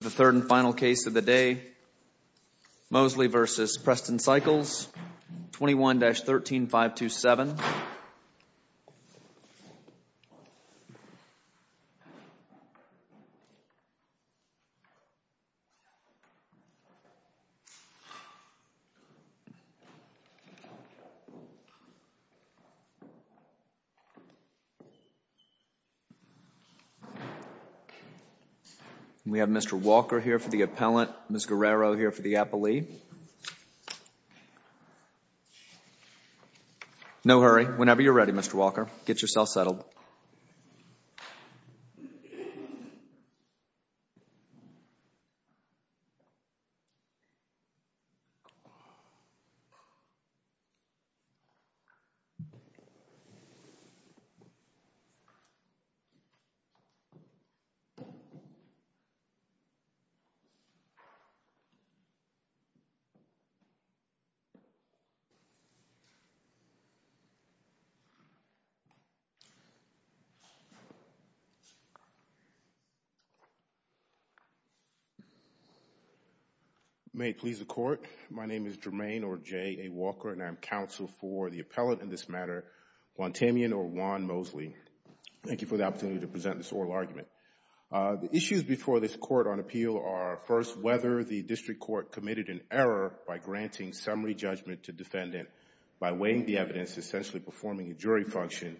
The third and final case of the day, Mosley v. Preston Cycles, 21-13527. We have Mr. Walker here for the appellant, Ms. Guerrero here for the appellee. No hurry. Whenever you're ready, Mr. Walker. Get yourself settled. May it please the Court, my name is Jermaine, or J. A. Walker, and I am counsel for the appellant in this matter, Juan Tamian, or Juan Mosley. Thank you for the opportunity to present this oral argument. The issues before this Court on appeal are, first, whether the district court committed an error by granting summary judgment to defendant by weighing the evidence, essentially performing a jury function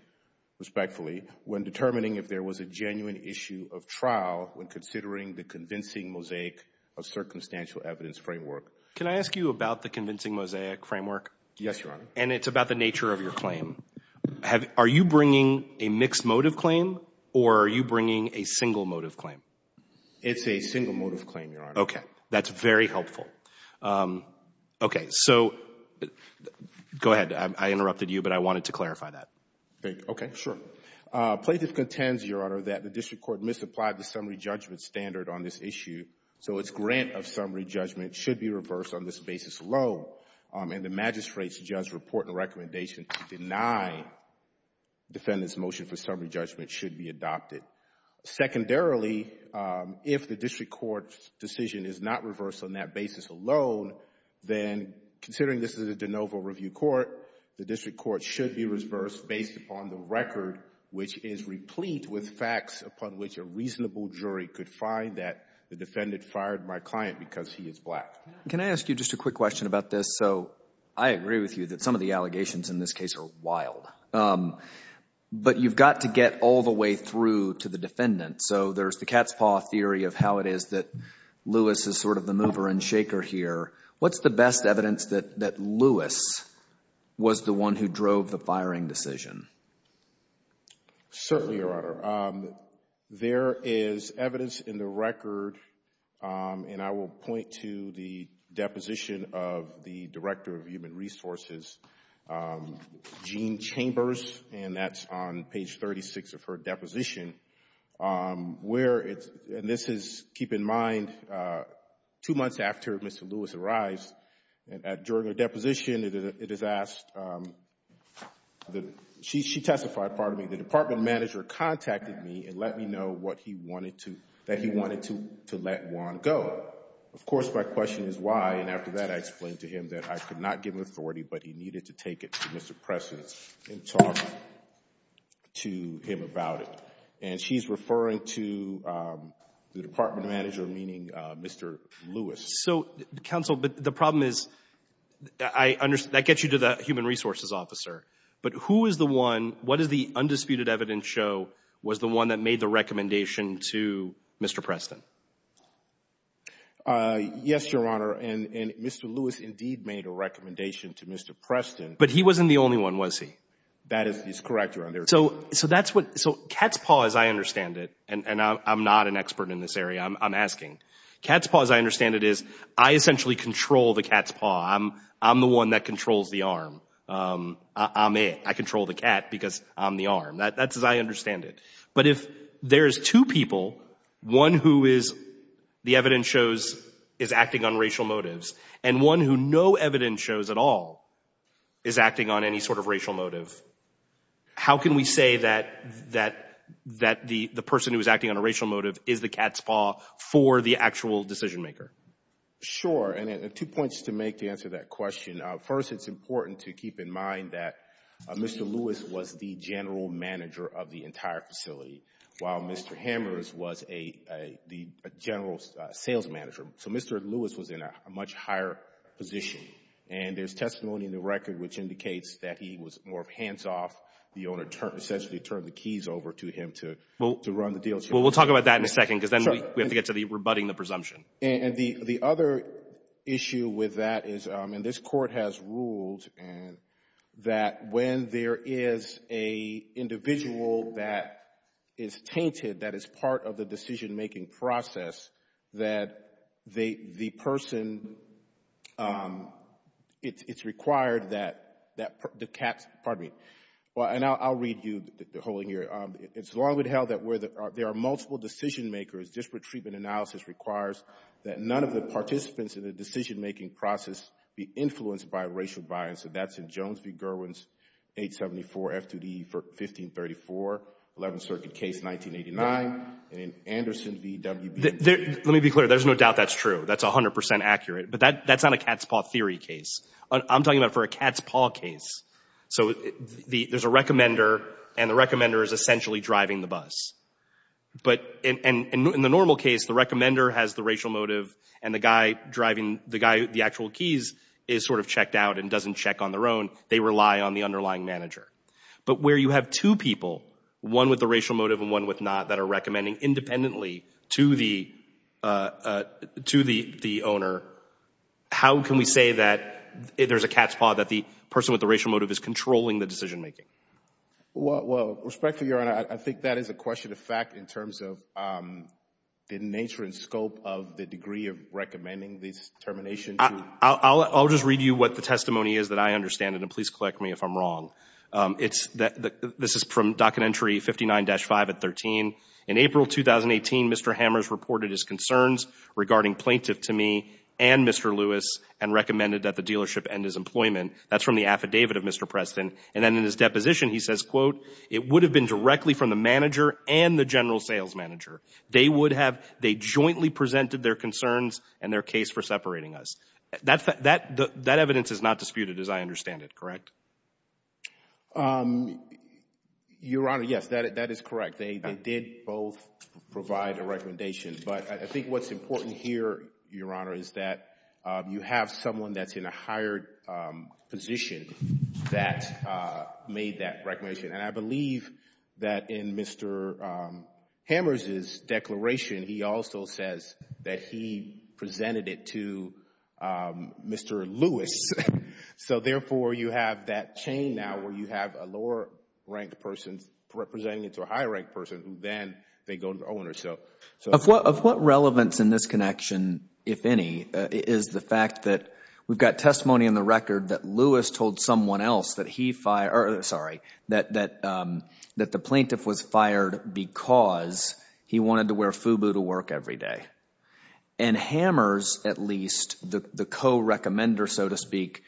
respectfully, when determining if there was a genuine issue of trial when considering the convincing mosaic of circumstantial evidence framework. Can I ask you about the convincing mosaic framework? Yes, Your Honor. And it's about the nature of your claim. Are you bringing a mixed motive claim, or are you bringing a single motive claim? It's a single motive claim, Your Honor. Okay. That's very helpful. Okay. So, go ahead, I interrupted you, but I wanted to clarify that. Okay, sure. Plaintiff contends, Your Honor, that the district court misapplied the summary judgment standard on this issue, so its grant of summary judgment should be reversed on this basis alone, and the magistrate's judge report and recommendation to deny defendant's motion for summary judgment should be adopted. Secondarily, if the district court's decision is not reversed on that basis alone, then considering this is a de novo review court, the district court should be reversed based upon the record, which is replete with facts upon which a reasonable jury could find that the defendant fired my client because he is black. Can I ask you just a quick question about this? So, I agree with you that some of the allegations in this case are wild, but you've got to get all the way through to the defendant, so there's the cat's paw theory of how it is that Lewis is sort of the mover and shaker here. What's the best evidence that Lewis was the one who drove the firing decision? Certainly, Your Honor, there is evidence in the record, and I will point to the deposition of the Director of Human Resources, Jean Chambers, and that's on page 36 of her deposition, where it's, and this is, keep in mind, two months after Mr. Lewis arrived, during her deposition, it is asked, she testified, pardon me, the department manager contacted me and let me know what he wanted to, that he wanted to let Juan go. Of course, my question is why, and after that, I explained to him that I could not give him authority, but he needed to take it to Mr. Preston and talk to him about it. And she's referring to the department manager, meaning Mr. Lewis. So, counsel, but the problem is, I understand, that gets you to the Human Resources officer, but who is the one, what does the undisputed evidence show was the one that made the recommendation to Mr. Preston? Yes, Your Honor, and Mr. Lewis indeed made a recommendation to Mr. Preston. But he wasn't the only one, was he? That is correct, Your Honor. So that's what, so cat's paw, as I understand it, and I'm not an expert in this area, I'm asking, cat's paw, as I understand it, is I essentially control the cat's paw. I'm the one that controls the arm. I'm it. I control the cat because I'm the arm. That's as I understand it. But if there's two people, one who is, the evidence shows, is acting on racial motives, and one who no evidence shows at all is acting on any sort of racial motive, how can we say that the person who is acting on a racial motive is the cat's paw for the actual decision maker? Sure, and two points to make to answer that question. First, it's important to keep in mind that Mr. Lewis was the general manager of the entire facility, while Mr. Hammers was the general sales manager. So Mr. Lewis was in a much higher position. And there's testimony in the record which indicates that he was more of hands-off. The owner essentially turned the keys over to him to run the deal. Well, we'll talk about that in a second because then we have to get to the rebutting the presumption. And the other issue with that is, and this Court has ruled, that when there is an individual that is tainted, that is part of the decision-making process, that the person, it's required that the cat's, pardon me, and I'll read you the whole thing here. It's long been held that where there are multiple decision makers, disparate treatment analysis requires that none of the participants in the decision-making process be influenced by racial bias. And that's in Jones v. Gerwins, 874 F2D 1534, 11th Circuit case 1989, and in Anderson v. WB. Let me be clear. There's no doubt that's true. That's 100 percent accurate. But that's not a cat's paw theory case. I'm talking about for a cat's paw case. So there's a recommender, and the recommender is essentially driving the bus. But in the normal case, the recommender has the racial motive, and the guy driving the guy, the actual keys, is sort of checked out and doesn't check on their own. They rely on the underlying manager. But where you have two people, one with the racial motive and one with not, that are recommending independently to the owner, how can we say that there's a cat's paw, that the person with the racial motive is controlling the decision-making? Well, respectfully, Your Honor, I think that is a question of fact in terms of the nature and scope of the degree of recommending this termination. I'll just read you what the testimony is that I understand it, and please correct me if I'm wrong. This is from docket entry 59-5 at 13. In April 2018, Mr. Hammers reported his concerns regarding plaintiff to me and Mr. Lewis and recommended that the dealership end his employment. That's from the affidavit of Mr. Preston. And then in his deposition, he says, quote, it would have been directly from the manager and the general sales manager. They would have, they jointly presented their concerns and their case for separating us. That evidence is not disputed as I understand it, correct? Your Honor, yes, that is correct. They did both provide a recommendation. But I think what's important here, Your Honor, is that you have someone that's in a higher position that made that recommendation. And I believe that in Mr. Hammers' declaration, he also says that he presented it to Mr. Lewis. So, therefore, you have that chain now where you have a lower-ranked person representing it to a higher-ranked person who then they go to the owner. Of what relevance in this connection, if any, is the fact that we've got testimony in the record that Lewis told someone else that he, sorry, that the plaintiff was fired because he wanted to wear FUBU to work every day. And Hammers, at least, the co-recommender, so to speak,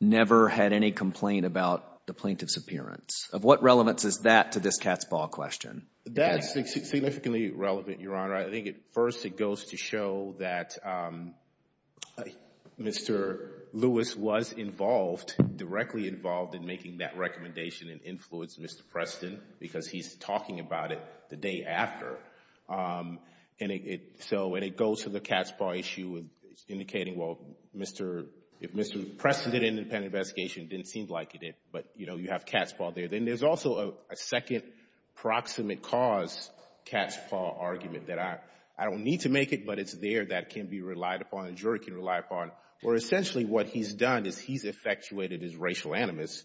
never had any complaint about the plaintiff's appearance. Of what relevance is that to this cat's ball question? That's significantly relevant, Your Honor. I think, first, it goes to show that Mr. Lewis was involved, directly involved, in making that recommendation and influenced Mr. Preston because he's talking about it the day after. And it goes to the cat's ball issue, indicating, well, if Mr. Preston did an independent investigation, it didn't seem like he did, but, you know, you have cat's ball there. Then there's also a second proximate cause cat's ball argument that I don't need to make it, but it's there that can be relied upon, the jury can rely upon, where essentially what he's done is he's effectuated his racial animus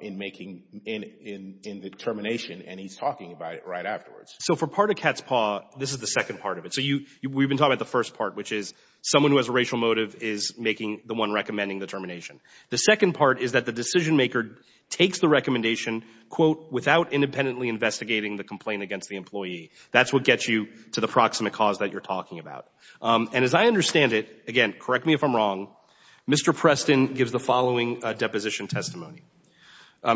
in the termination, and he's talking about it right afterwards. So for part of cat's ball, this is the second part of it. So we've been talking about the first part, which is someone who has a racial motive is making the one recommending the termination. The second part is that the decision maker takes the recommendation, quote, without independently investigating the complaint against the employee. That's what gets you to the proximate cause that you're talking about. And as I understand it, again, correct me if I'm wrong, Mr. Preston gives the following declaration testimony. I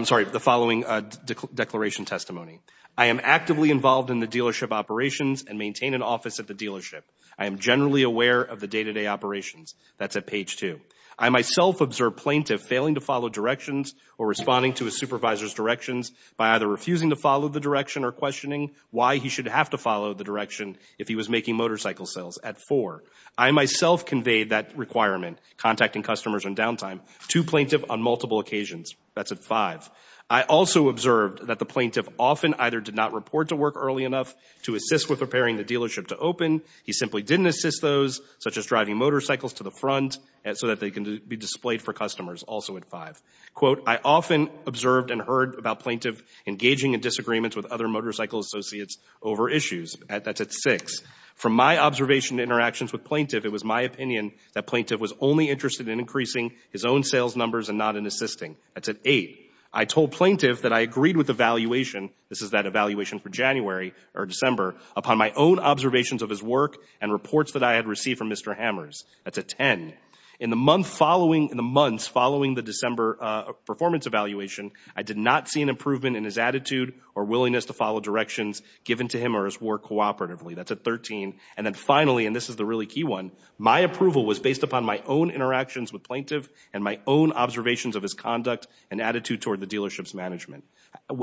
am actively involved in the dealership operations and maintain an office at the dealership. I am generally aware of the day-to-day operations. That's at page two. I myself observe plaintiff failing to follow directions or responding to his supervisor's directions by either refusing to follow the direction or questioning why he should have to follow the direction if he was making motorcycle sales at four. I myself conveyed that requirement, contacting customers on downtime, to plaintiff on multiple occasions. That's at five. I also observed that the plaintiff often either did not report to work early enough to assist with preparing the dealership to open. He simply didn't assist those, such as driving motorcycles to the front so that they can be displayed for customers, also at five. Quote, I often observed and heard about plaintiff engaging in disagreements with other motorcycle associates over issues. That's at six. From my observation and interactions with plaintiff, it was my opinion that plaintiff was only interested in increasing his own sales numbers and not in assisting. That's at eight. I told plaintiff that I agreed with the valuation, this is that evaluation for January or December, upon my own observations of his work and reports that I had received from Mr. Hammers. That's at ten. In the months following the December performance evaluation, I did not see an improvement in his attitude or willingness to follow directions given to him or his work cooperatively. That's at 13. And then finally, and this is the really key one, my approval was based upon my own interactions with plaintiff and my own observations of his conduct and attitude toward the dealership's management.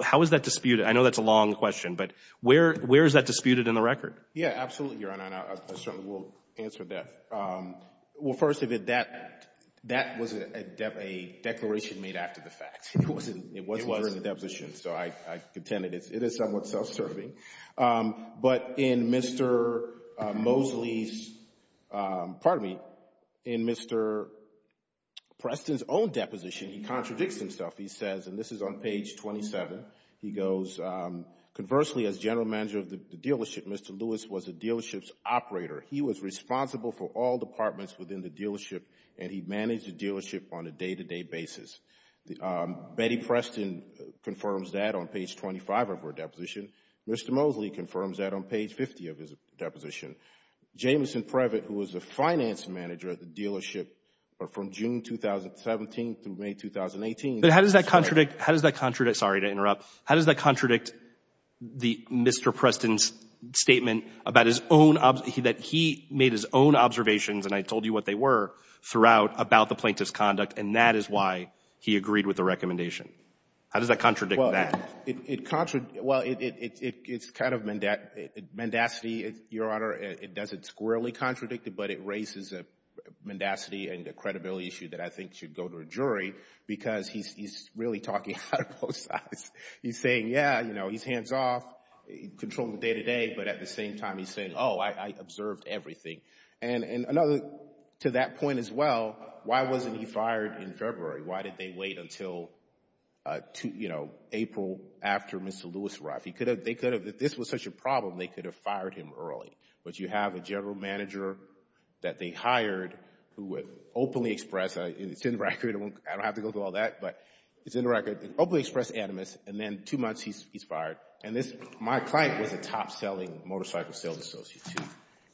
How is that disputed? I know that's a long question, but where is that disputed in the record? Yeah, absolutely, Your Honor, and I certainly will answer that. Well, first of it, that was a declaration made after the fact. It wasn't during the deposition, so I contend it is somewhat self-serving. But in Mr. Mosley's, pardon me, in Mr. Preston's own deposition, he contradicts himself. He says, and this is on page 27, he goes, Conversely, as general manager of the dealership, Mr. Lewis was the dealership's operator. He was responsible for all departments within the dealership, and he managed the dealership on a day-to-day basis. Betty Preston confirms that on page 25 of her deposition. Mr. Mosley confirms that on page 50 of his deposition. Jameson Previtt, who was the finance manager at the dealership from June 2017 through May 2018. But how does that contradict, how does that contradict, sorry to interrupt, how does that contradict Mr. Preston's statement about his own, that he made his own observations, and I told you what they were, throughout about the plaintiff's conduct, and that is why he agreed with the recommendation? How does that contradict that? Well, it's kind of mendacity, Your Honor. It doesn't squarely contradict it, but it raises a mendacity and a credibility issue that I think should go to a jury because he's really talking out of both sides. He's saying, yeah, you know, he's hands-off, controlling the day-to-day, but at the same time he's saying, oh, I observed everything. And another, to that point as well, why wasn't he fired in February? Why did they wait until, you know, April after Mr. Lewis arrived? They could have, if this was such a problem, they could have fired him early. But you have a general manager that they hired who would openly express, and it's in the record, I don't have to go through all that, but it's in the record, openly express animus, and then two months he's fired. And my client was a top-selling motorcycle sales associate,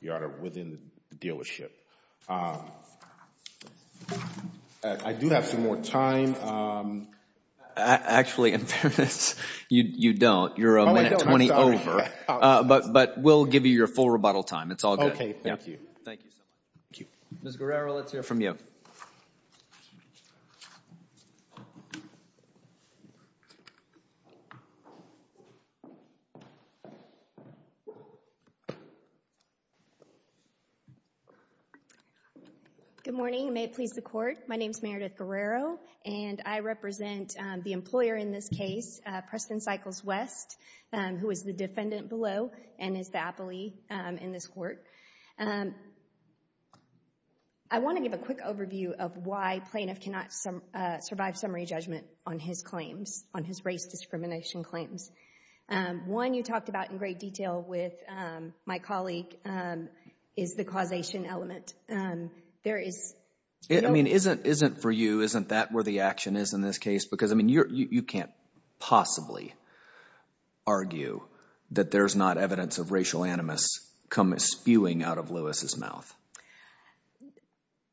Your Honor, within the dealership. I do have some more time. Actually, in fairness, you don't. You're a minute 20 over. But we'll give you your full rebuttal time. It's all good. Okay, thank you. Thank you so much. Thank you. Ms. Guerrero, let's hear from you. Good morning. May it please the Court. My name is Meredith Guerrero, and I represent the employer in this case, Preston Cycles West, who is the defendant below and is the appellee in this court. I want to give a quick overview of why plaintiff cannot survive summary judgment on his claims, on his race discrimination claims. One you talked about in great detail with my colleague is the causation element. There is no— I mean, isn't for you, isn't that where the action is in this case? Because, I mean, you can't possibly argue that there's not evidence of racial animus spewing out of Lewis' mouth.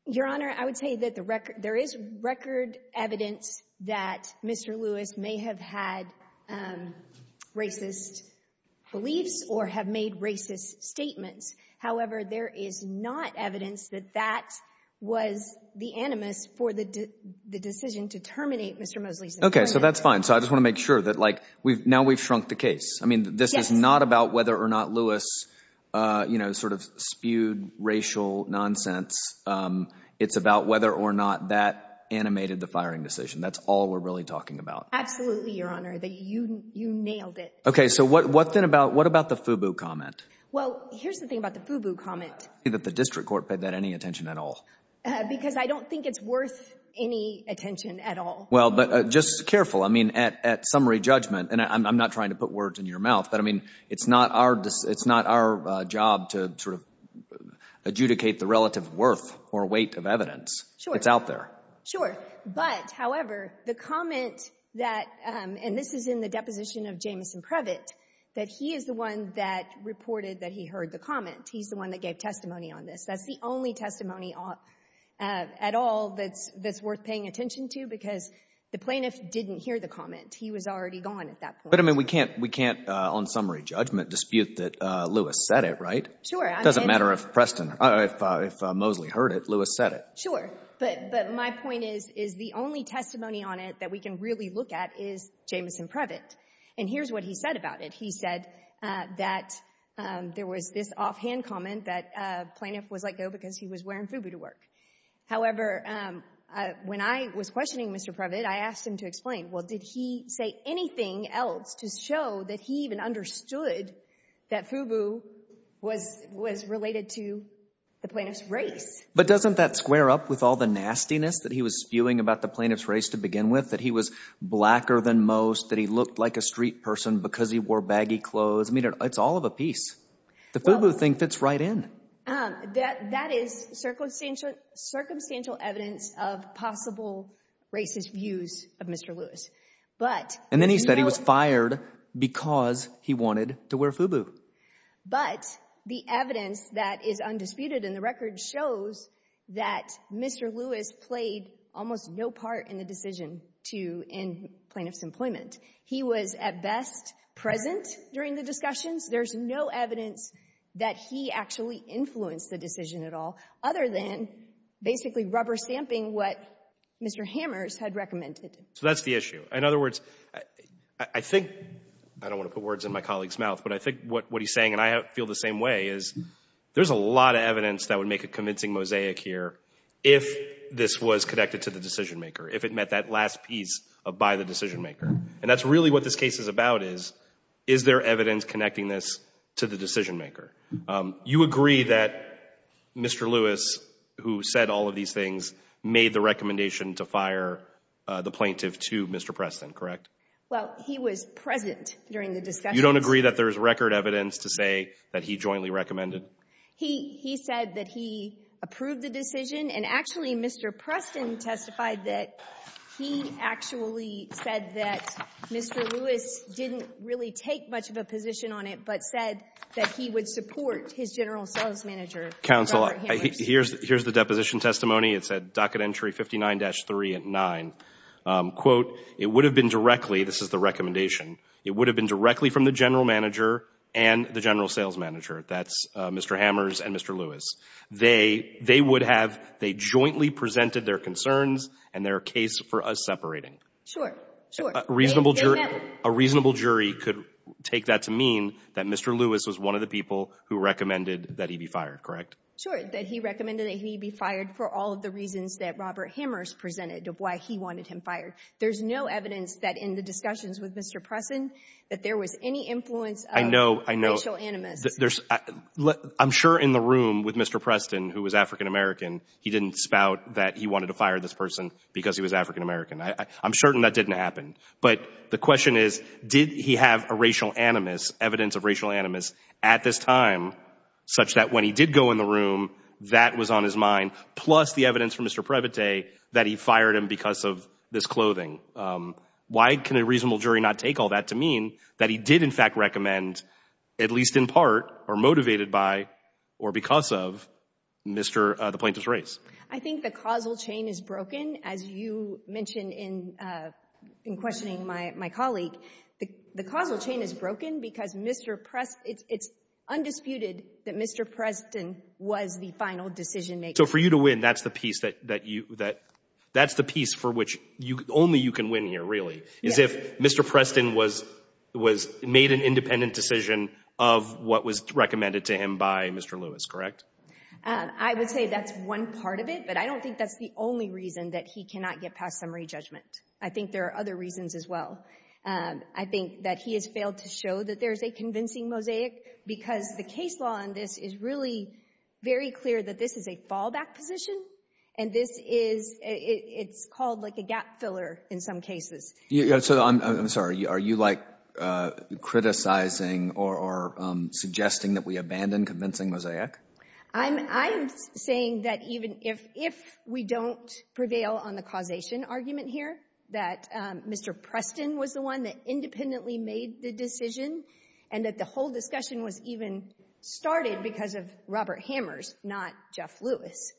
Your Honor, I would say that there is record evidence that Mr. Lewis may have had racist beliefs or have made racist statements. However, there is not evidence that that was the animus for the decision to terminate Mr. Mosley's— Okay, so that's fine. So I just want to make sure that, like, now we've shrunk the case. I mean, this is not about whether or not Lewis, you know, sort of spewed racial nonsense. It's about whether or not that animated the firing decision. That's all we're really talking about. Absolutely, Your Honor. You nailed it. Okay, so what then about—what about the FUBU comment? Well, here's the thing about the FUBU comment. I don't see that the district court paid that any attention at all. Because I don't think it's worth any attention at all. Well, but just careful. I mean, at summary judgment—and I'm not trying to put words in your mouth— but, I mean, it's not our job to sort of adjudicate the relative worth or weight of evidence. Sure. It's out there. Sure. But, however, the comment that—and this is in the deposition of Jamison Previtt— that he is the one that reported that he heard the comment. He's the one that gave testimony on this. That's the only testimony at all that's worth paying attention to because the plaintiff didn't hear the comment. He was already gone at that point. But, I mean, we can't on summary judgment dispute that Lewis said it, right? Sure. It doesn't matter if Preston—if Mosley heard it, Lewis said it. Sure. But my point is the only testimony on it that we can really look at is Jamison Previtt. And here's what he said about it. He said that there was this offhand comment that a plaintiff was let go because he was wearing FUBU to work. However, when I was questioning Mr. Previtt, I asked him to explain, well, did he say anything else to show that he even understood that FUBU was related to the plaintiff's race? But doesn't that square up with all the nastiness that he was spewing about the plaintiff's race to begin with, that he was blacker than most, that he looked like a street person because he wore baggy clothes? I mean, it's all of a piece. The FUBU thing fits right in. That is circumstantial evidence of possible racist views of Mr. Lewis. And then he said he was fired because he wanted to wear FUBU. But the evidence that is undisputed in the record shows that Mr. Lewis played almost no part in the decision to end plaintiff's employment. He was, at best, present during the discussions. There's no evidence that he actually influenced the decision at all other than basically rubber-stamping what Mr. Hammers had recommended. So that's the issue. In other words, I think, I don't want to put words in my colleague's mouth, but I think what he's saying, and I feel the same way, is there's a lot of evidence that would make a convincing mosaic here if this was connected to the decision-maker, if it met that last piece of by the decision-maker. And that's really what this case is about is, is there evidence connecting this to the decision-maker? You agree that Mr. Lewis, who said all of these things, made the recommendation to fire the plaintiff to Mr. Preston, correct? Well, he was present during the discussions. You don't agree that there's record evidence to say that he jointly recommended? He said that he approved the decision. And actually, Mr. Preston testified that he actually said that Mr. Lewis didn't really take much of a position on it, but said that he would support his general sales manager, Robert Hammers. Counsel, here's the deposition testimony. It's at docket entry 59-3 and 9. Quote, it would have been directly, this is the recommendation, it would have been directly from the general manager and the general sales manager. That's Mr. Hammers and Mr. Lewis. They would have, they jointly presented their concerns and their case for us separating. Sure, sure. A reasonable jury could take that to mean that Mr. Lewis was one of the people who recommended that he be fired, correct? Sure, that he recommended that he be fired for all of the reasons that Robert Hammers presented of why he wanted him fired. There's no evidence that in the discussions with Mr. Preston that there was any influence of racial animus. I'm sure in the room with Mr. Preston, who was African-American, he didn't spout that he wanted to fire this person because he was African-American. I'm certain that didn't happen. But the question is, did he have a racial animus, evidence of racial animus at this time, such that when he did go in the room, that was on his mind, plus the evidence from Mr. Previte that he fired him because of this clothing? Why can a reasonable jury not take all that to mean that he did in fact recommend, at least in part, or motivated by or because of the plaintiff's race? I think the causal chain is broken. As you mentioned in questioning my colleague, the causal chain is broken because Mr. Preston, it's undisputed that Mr. Preston was the final decision maker. So for you to win, that's the piece for which only you can win here, really, is if Mr. Preston made an independent decision of what was recommended to him by Mr. Lewis, correct? I would say that's one part of it, but I don't think that's the only reason that he cannot get past summary judgment. I think there are other reasons as well. I think that he has failed to show that there is a convincing mosaic because the case law on this is really very clear that this is a fallback position, and this is — it's called like a gap filler in some cases. I'm sorry. Are you, like, criticizing or suggesting that we abandon convincing mosaic? I'm saying that even if we don't prevail on the causation argument here, that Mr. Preston was the one that independently made the decision and that the whole discussion was even started because of Robert Hammers, not Jeff Lewis.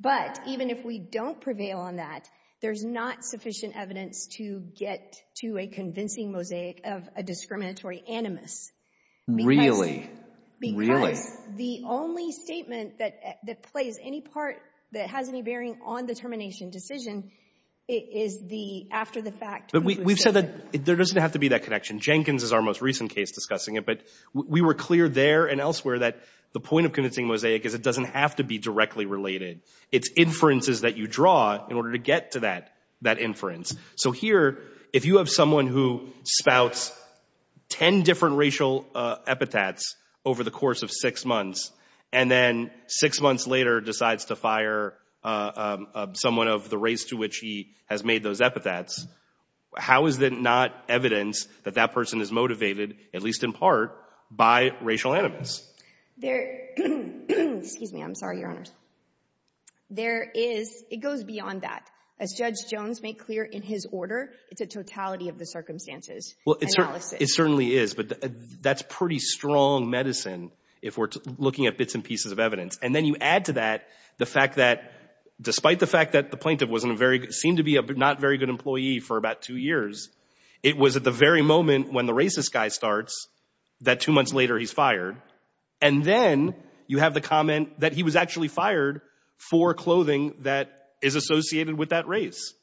But even if we don't prevail on that, there's not sufficient evidence to get to a convincing mosaic of a discriminatory animus. Really? Really? Because the only statement that plays any part, that has any bearing on the termination decision, is after the fact. But we've said that there doesn't have to be that connection. Jenkins is our most recent case discussing it, but we were clear there and elsewhere that the point of convincing mosaic is it doesn't have to be directly related. It's inferences that you draw in order to get to that inference. So here, if you have someone who spouts ten different racial epithets over the course of six months, and then six months later decides to fire someone of the race to which he has made those epithets, how is that not evidence that that person is motivated, at least in part, by racial animus? Excuse me. I'm sorry, Your Honors. It goes beyond that. As Judge Jones made clear in his order, it's a totality of the circumstances analysis. It certainly is, but that's pretty strong medicine if we're looking at bits and pieces of evidence. And then you add to that the fact that, despite the fact that the plaintiff seemed to be a not very good employee for about two years, it was at the very moment when the racist guy starts that two months later he's fired. And then you have the comment that he was actually fired for clothing that is associated with that race.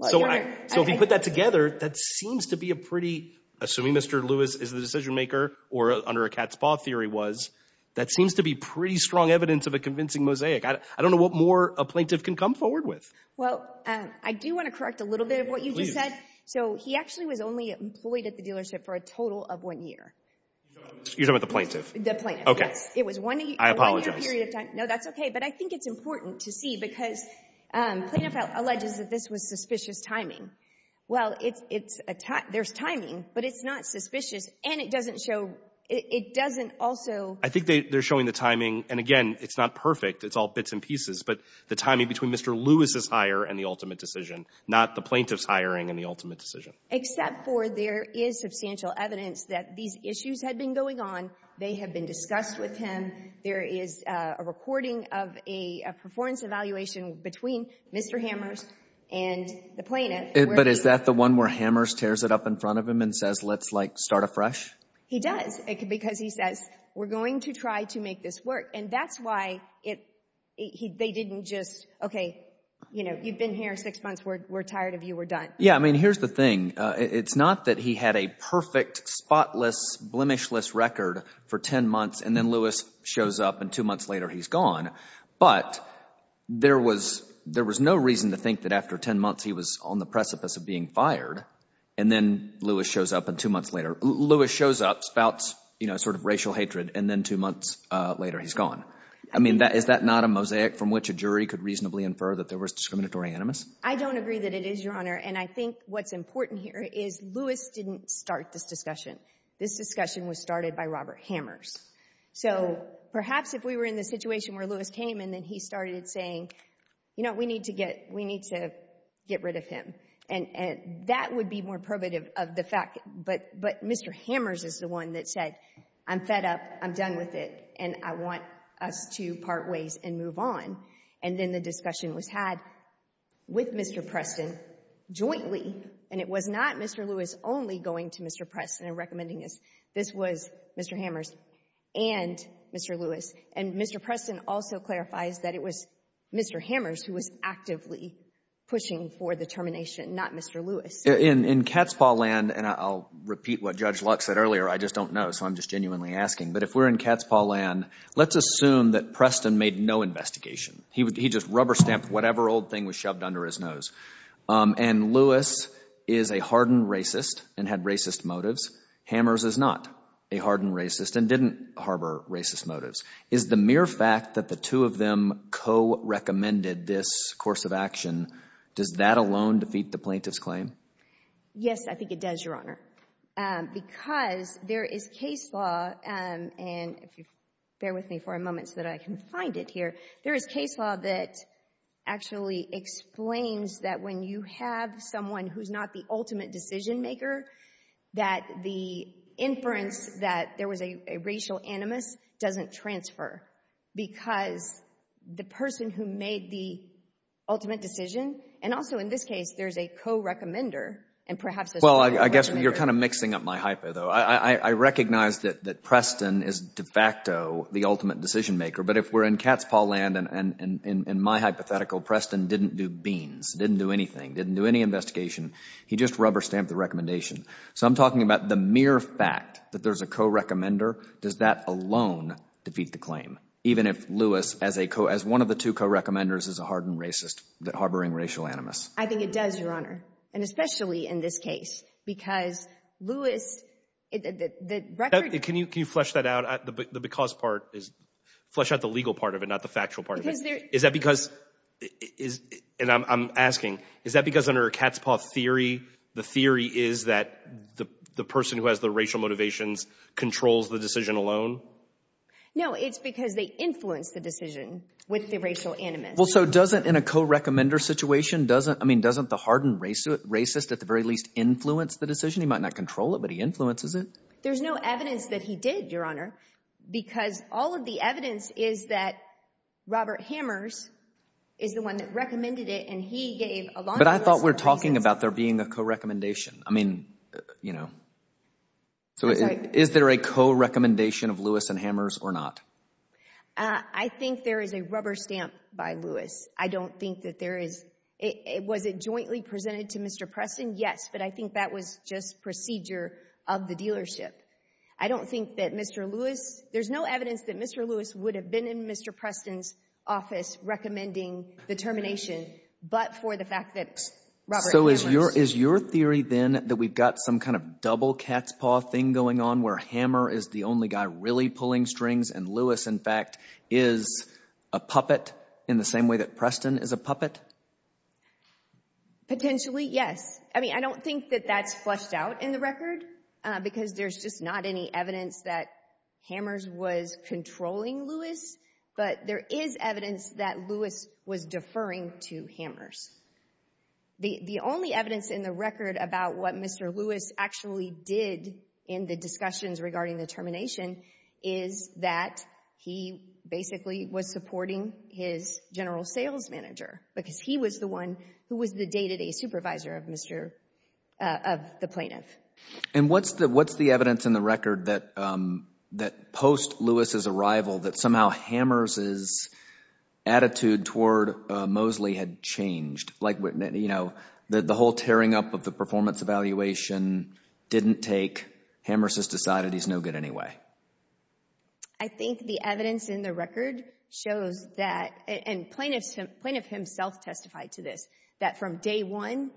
So if you put that together, that seems to be a pretty—assuming Mr. Lewis is the decision maker, or under a cat's paw theory was, that seems to be pretty strong evidence of a convincing mosaic. I don't know what more a plaintiff can come forward with. Well, I do want to correct a little bit of what you just said. So he actually was only employed at the dealership for a total of one year. You're talking about the plaintiff? The plaintiff, yes. Okay. I apologize. No, that's okay. But I think it's important to see because Plaintiff alleges that this was suspicious timing. Well, it's a — there's timing, but it's not suspicious. And it doesn't show — it doesn't also— I think they're showing the timing. And, again, it's not perfect. It's all bits and pieces. But the timing between Mr. Lewis' hire and the ultimate decision, not the plaintiff's hiring and the ultimate decision. Except for there is substantial evidence that these issues had been going on. They had been discussed with him. There is a recording of a performance evaluation between Mr. Hammers and the plaintiff. But is that the one where Hammers tears it up in front of him and says, let's, like, start afresh? He does because he says, we're going to try to make this work. And that's why they didn't just, okay, you know, you've been here six months. We're tired of you. We're done. Yeah. I mean, here's the thing. It's not that he had a perfect, spotless, blemishless record for 10 months and then Lewis shows up and two months later he's gone. But there was no reason to think that after 10 months he was on the precipice of being fired and then Lewis shows up and two months later Lewis shows up, spouts, you know, sort of racial hatred, and then two months later he's gone. I mean, is that not a mosaic from which a jury could reasonably infer that there was discriminatory animus? I don't agree that it is, Your Honor. And I think what's important here is Lewis didn't start this discussion. This discussion was started by Robert Hammers. So perhaps if we were in the situation where Lewis came and then he started saying, you know, we need to get rid of him, and that would be more probative of the fact. But Mr. Hammers is the one that said, I'm fed up. I'm done with it, and I want us to part ways and move on. And then the discussion was had with Mr. Preston jointly, and it was not Mr. Lewis only going to Mr. Preston and recommending this. This was Mr. Hammers and Mr. Lewis. And Mr. Preston also clarifies that it was Mr. Hammers who was actively pushing for the termination, not Mr. Lewis. In Catspaw Land, and I'll repeat what Judge Luck said earlier, I just don't know, so I'm just genuinely asking, but if we're in Catspaw Land, let's assume that Preston made no investigation. He just rubber-stamped whatever old thing was shoved under his nose. And Lewis is a hardened racist and had racist motives. Hammers is not a hardened racist and didn't harbor racist motives. Is the mere fact that the two of them co-recommended this course of action, does that alone defeat the plaintiff's claim? Yes, I think it does, Your Honor, because there is case law, and if you bear with me for a moment so that I can find it here, there is case law that actually explains that when you have someone who's not the ultimate decision-maker, that the inference that there was a racial animus doesn't transfer because the person who made the ultimate decision, and also in this case, there's a co-recommender and perhaps there's a co-recommender. Well, I guess you're kind of mixing up my hypo, though. I recognize that Preston is de facto the ultimate decision-maker, but if we're in cat's paw land, and in my hypothetical, Preston didn't do beans, didn't do anything, didn't do any investigation. He just rubber-stamped the recommendation. So I'm talking about the mere fact that there's a co-recommender. Does that alone defeat the claim, even if Lewis, as one of the two co-recommenders, is a hardened racist harboring racial animus? I think it does, Your Honor, and especially in this case because Lewis – Can you flesh that out? The because part is – flesh out the legal part of it, not the factual part of it. Is that because – and I'm asking. Is that because under a cat's paw theory, the theory is that the person who has the racial motivations controls the decision alone? No, it's because they influence the decision with the racial animus. Well, so doesn't – in a co-recommender situation, doesn't – I mean doesn't the hardened racist at the very least influence the decision? He might not control it, but he influences it. There's no evidence that he did, Your Honor, because all of the evidence is that Robert Hammers is the one that recommended it and he gave a long list of reasons. But I thought we were talking about there being a co-recommendation. I mean, you know – I'm sorry. Is there a co-recommendation of Lewis and Hammers or not? I think there is a rubber stamp by Lewis. I don't think that there is – was it jointly presented to Mr. Preston? Yes, but I think that was just procedure of the dealership. I don't think that Mr. Lewis – there's no evidence that Mr. Lewis would have been in Mr. Preston's office recommending the termination but for the fact that Robert Hammers – So is your theory then that we've got some kind of double cat's paw thing going on where Hammer is the only guy really pulling strings and Lewis, in fact, is a puppet in the same way that Preston is a puppet? Potentially, yes. I mean, I don't think that that's fleshed out in the record because there's just not any evidence that Hammers was controlling Lewis, but there is evidence that Lewis was deferring to Hammers. The only evidence in the record about what Mr. Lewis actually did in the discussions regarding the termination is that he basically was supporting his general sales manager because he was the one who was the day-to-day supervisor of Mr. – of the plaintiff. And what's the evidence in the record that post Lewis' arrival that somehow Hammers' attitude toward Mosley had changed? Like the whole tearing up of the performance evaluation didn't take – Hammers has decided he's no good anyway. I think the evidence in the record shows that – and plaintiff himself testified to this – that from day one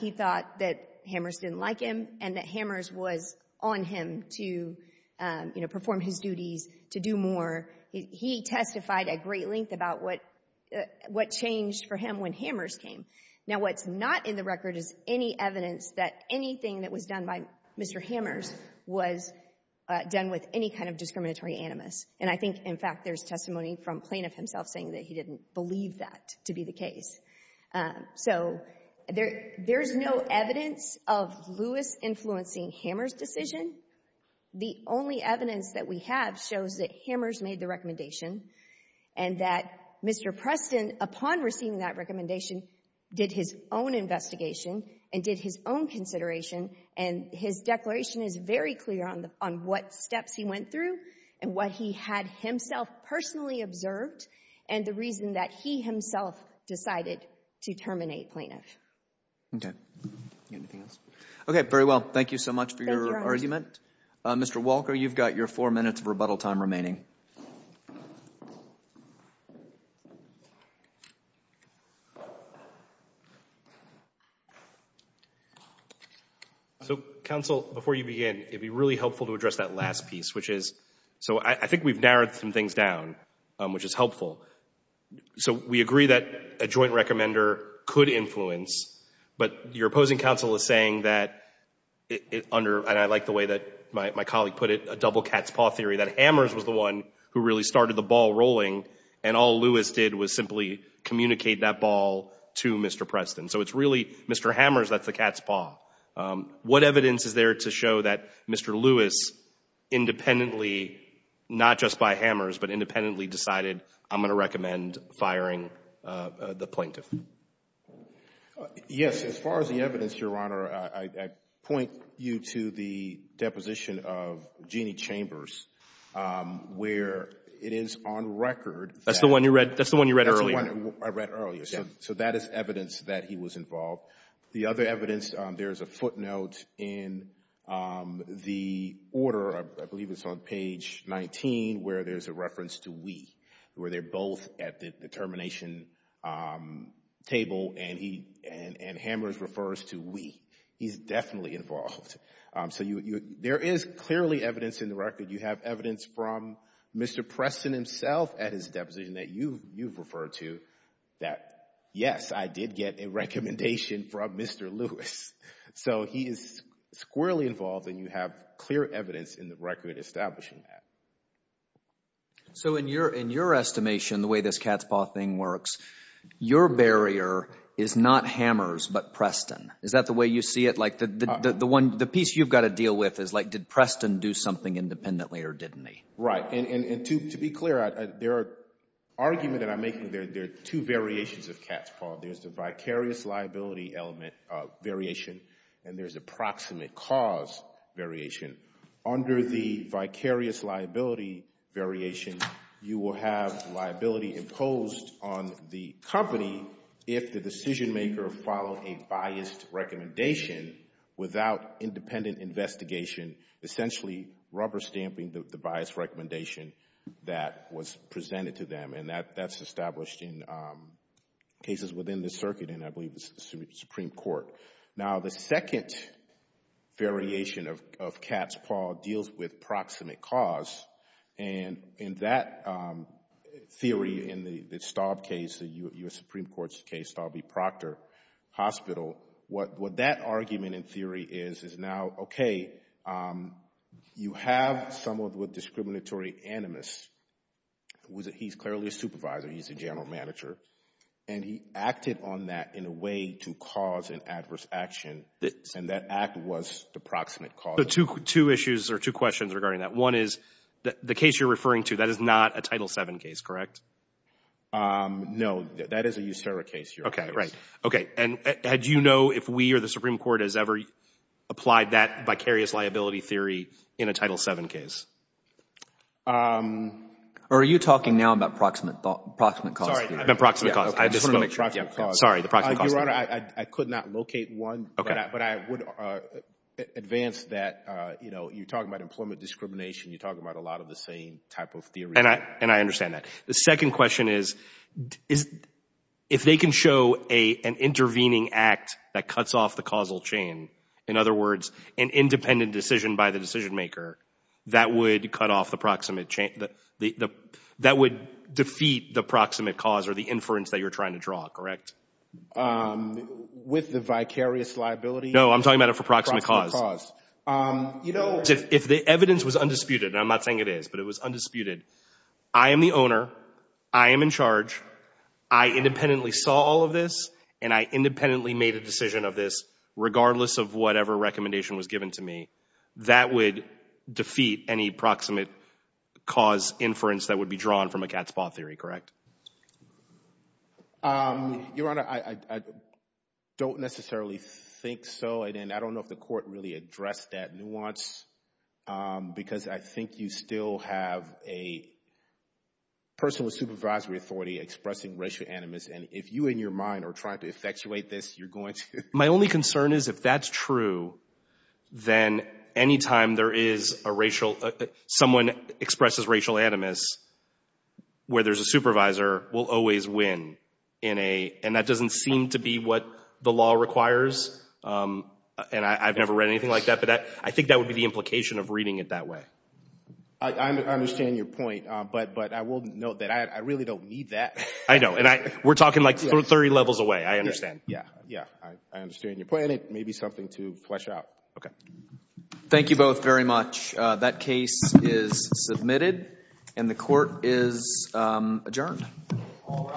he thought that Hammers didn't like him and that Hammers was on him to perform his duties, to do more. He testified at great length about what changed for him when Hammers came. Now, what's not in the record is any evidence that anything that was done by Mr. Hammers was done with any kind of discriminatory animus. And I think, in fact, there's testimony from plaintiff himself saying that he didn't believe that to be the case. So there's no evidence of Lewis influencing Hammers' decision. The only evidence that we have shows that Hammers made the recommendation and that Mr. Preston, upon receiving that recommendation, did his own investigation and did his own consideration. And his declaration is very clear on what steps he went through and what he had himself personally observed and the reason that he himself decided to terminate plaintiff. Okay. Anything else? Okay, very well. Thank you so much for your argument. Mr. Walker, you've got your four minutes of rebuttal time remaining. So, counsel, before you begin, it would be really helpful to address that last piece, which is – so I think we've narrowed some things down, which is helpful. So we agree that a joint recommender could influence, but your opposing counsel is saying that under – and I like the way that my colleague put it, a double cat's paw theory, that Hammers was the one who really started the ball rolling and all Lewis did was simply communicate that ball to Mr. Preston. So it's really Mr. Hammers that's the cat's paw. What evidence is there to show that Mr. Lewis independently, not just by Hammers, but independently decided, I'm going to recommend firing the plaintiff? Yes, as far as the evidence, Your Honor, I point you to the deposition of Jeanne Chambers, where it is on record that – That's the one you read earlier? That's the one I read earlier. So that is evidence that he was involved. The other evidence, there's a footnote in the order, I believe it's on page 19, where there's a reference to we, where they're both at the termination table and Hammers refers to we. He's definitely involved. So there is clearly evidence in the record. You have evidence from Mr. Preston himself at his deposition that you've referred to that, yes, I did get a recommendation from Mr. Lewis. So he is squarely involved and you have clear evidence in the record establishing that. So in your estimation, the way this cat's paw thing works, your barrier is not Hammers but Preston. Is that the way you see it? Like the piece you've got to deal with is like did Preston do something independently or didn't he? Right. And to be clear, there are – argument that I'm making, there are two variations of cat's paw. There's the vicarious liability element variation and there's approximate cause variation. Under the vicarious liability variation, you will have liability imposed on the company if the decision maker followed a biased recommendation without independent investigation, essentially rubber stamping the biased recommendation that was presented to them. And that's established in cases within the circuit and I believe it's the Supreme Court. Now, the second variation of cat's paw deals with proximate cause. And in that theory in the Staub case, the U.S. Supreme Court's case, Staub v. Proctor Hospital, what that argument in theory is is now, okay, you have someone with discriminatory animus. He's clearly a supervisor. He's a general manager. And he acted on that in a way to cause an adverse action and that act was the proximate cause. Two issues or two questions regarding that. One is the case you're referring to, that is not a Title VII case, correct? No, that is a USERRA case. Okay, right. Okay. And do you know if we or the Supreme Court has ever applied that vicarious liability theory in a Title VII case? Or are you talking now about proximate cause theory? Sorry, I meant proximate cause. I just wanted to make sure. Sorry, the proximate cause. Your Honor, I could not locate one. Okay. But I would advance that, you know, you're talking about employment discrimination. You're talking about a lot of the same type of theory. And I understand that. The second question is, if they can show an intervening act that cuts off the causal chain, in other words, an independent decision by the decision maker that would cut off the proximate chain, that would defeat the proximate cause or the inference that you're trying to draw, correct? With the vicarious liability? No, I'm talking about it for proximate cause. Proximate cause. You know, if the evidence was undisputed, and I'm not saying it is, but it was undisputed, I am the owner, I am in charge, I independently saw all of this, and I independently made a decision of this, regardless of whatever recommendation was given to me, that would defeat any proximate cause inference that would be drawn from a cat's paw theory, correct? Your Honor, I don't necessarily think so. And I don't know if the Court really addressed that nuance, because I think you still have a person with supervisory authority expressing racial animus. And if you in your mind are trying to effectuate this, you're going to. My only concern is if that's true, then any time there is a racial ‑‑ someone expresses racial animus where there's a supervisor will always win in a ‑‑ and that doesn't seem to be what the law requires, and I've never read anything like that, but I think that would be the implication of reading it that way. I understand your point, but I will note that I really don't need that. I know, and we're talking like 30 levels away, I understand. Yeah, yeah, I understand your point, and it may be something to flesh out. Okay. Thank you both very much. That case is submitted, and the Court is adjourned. All rise.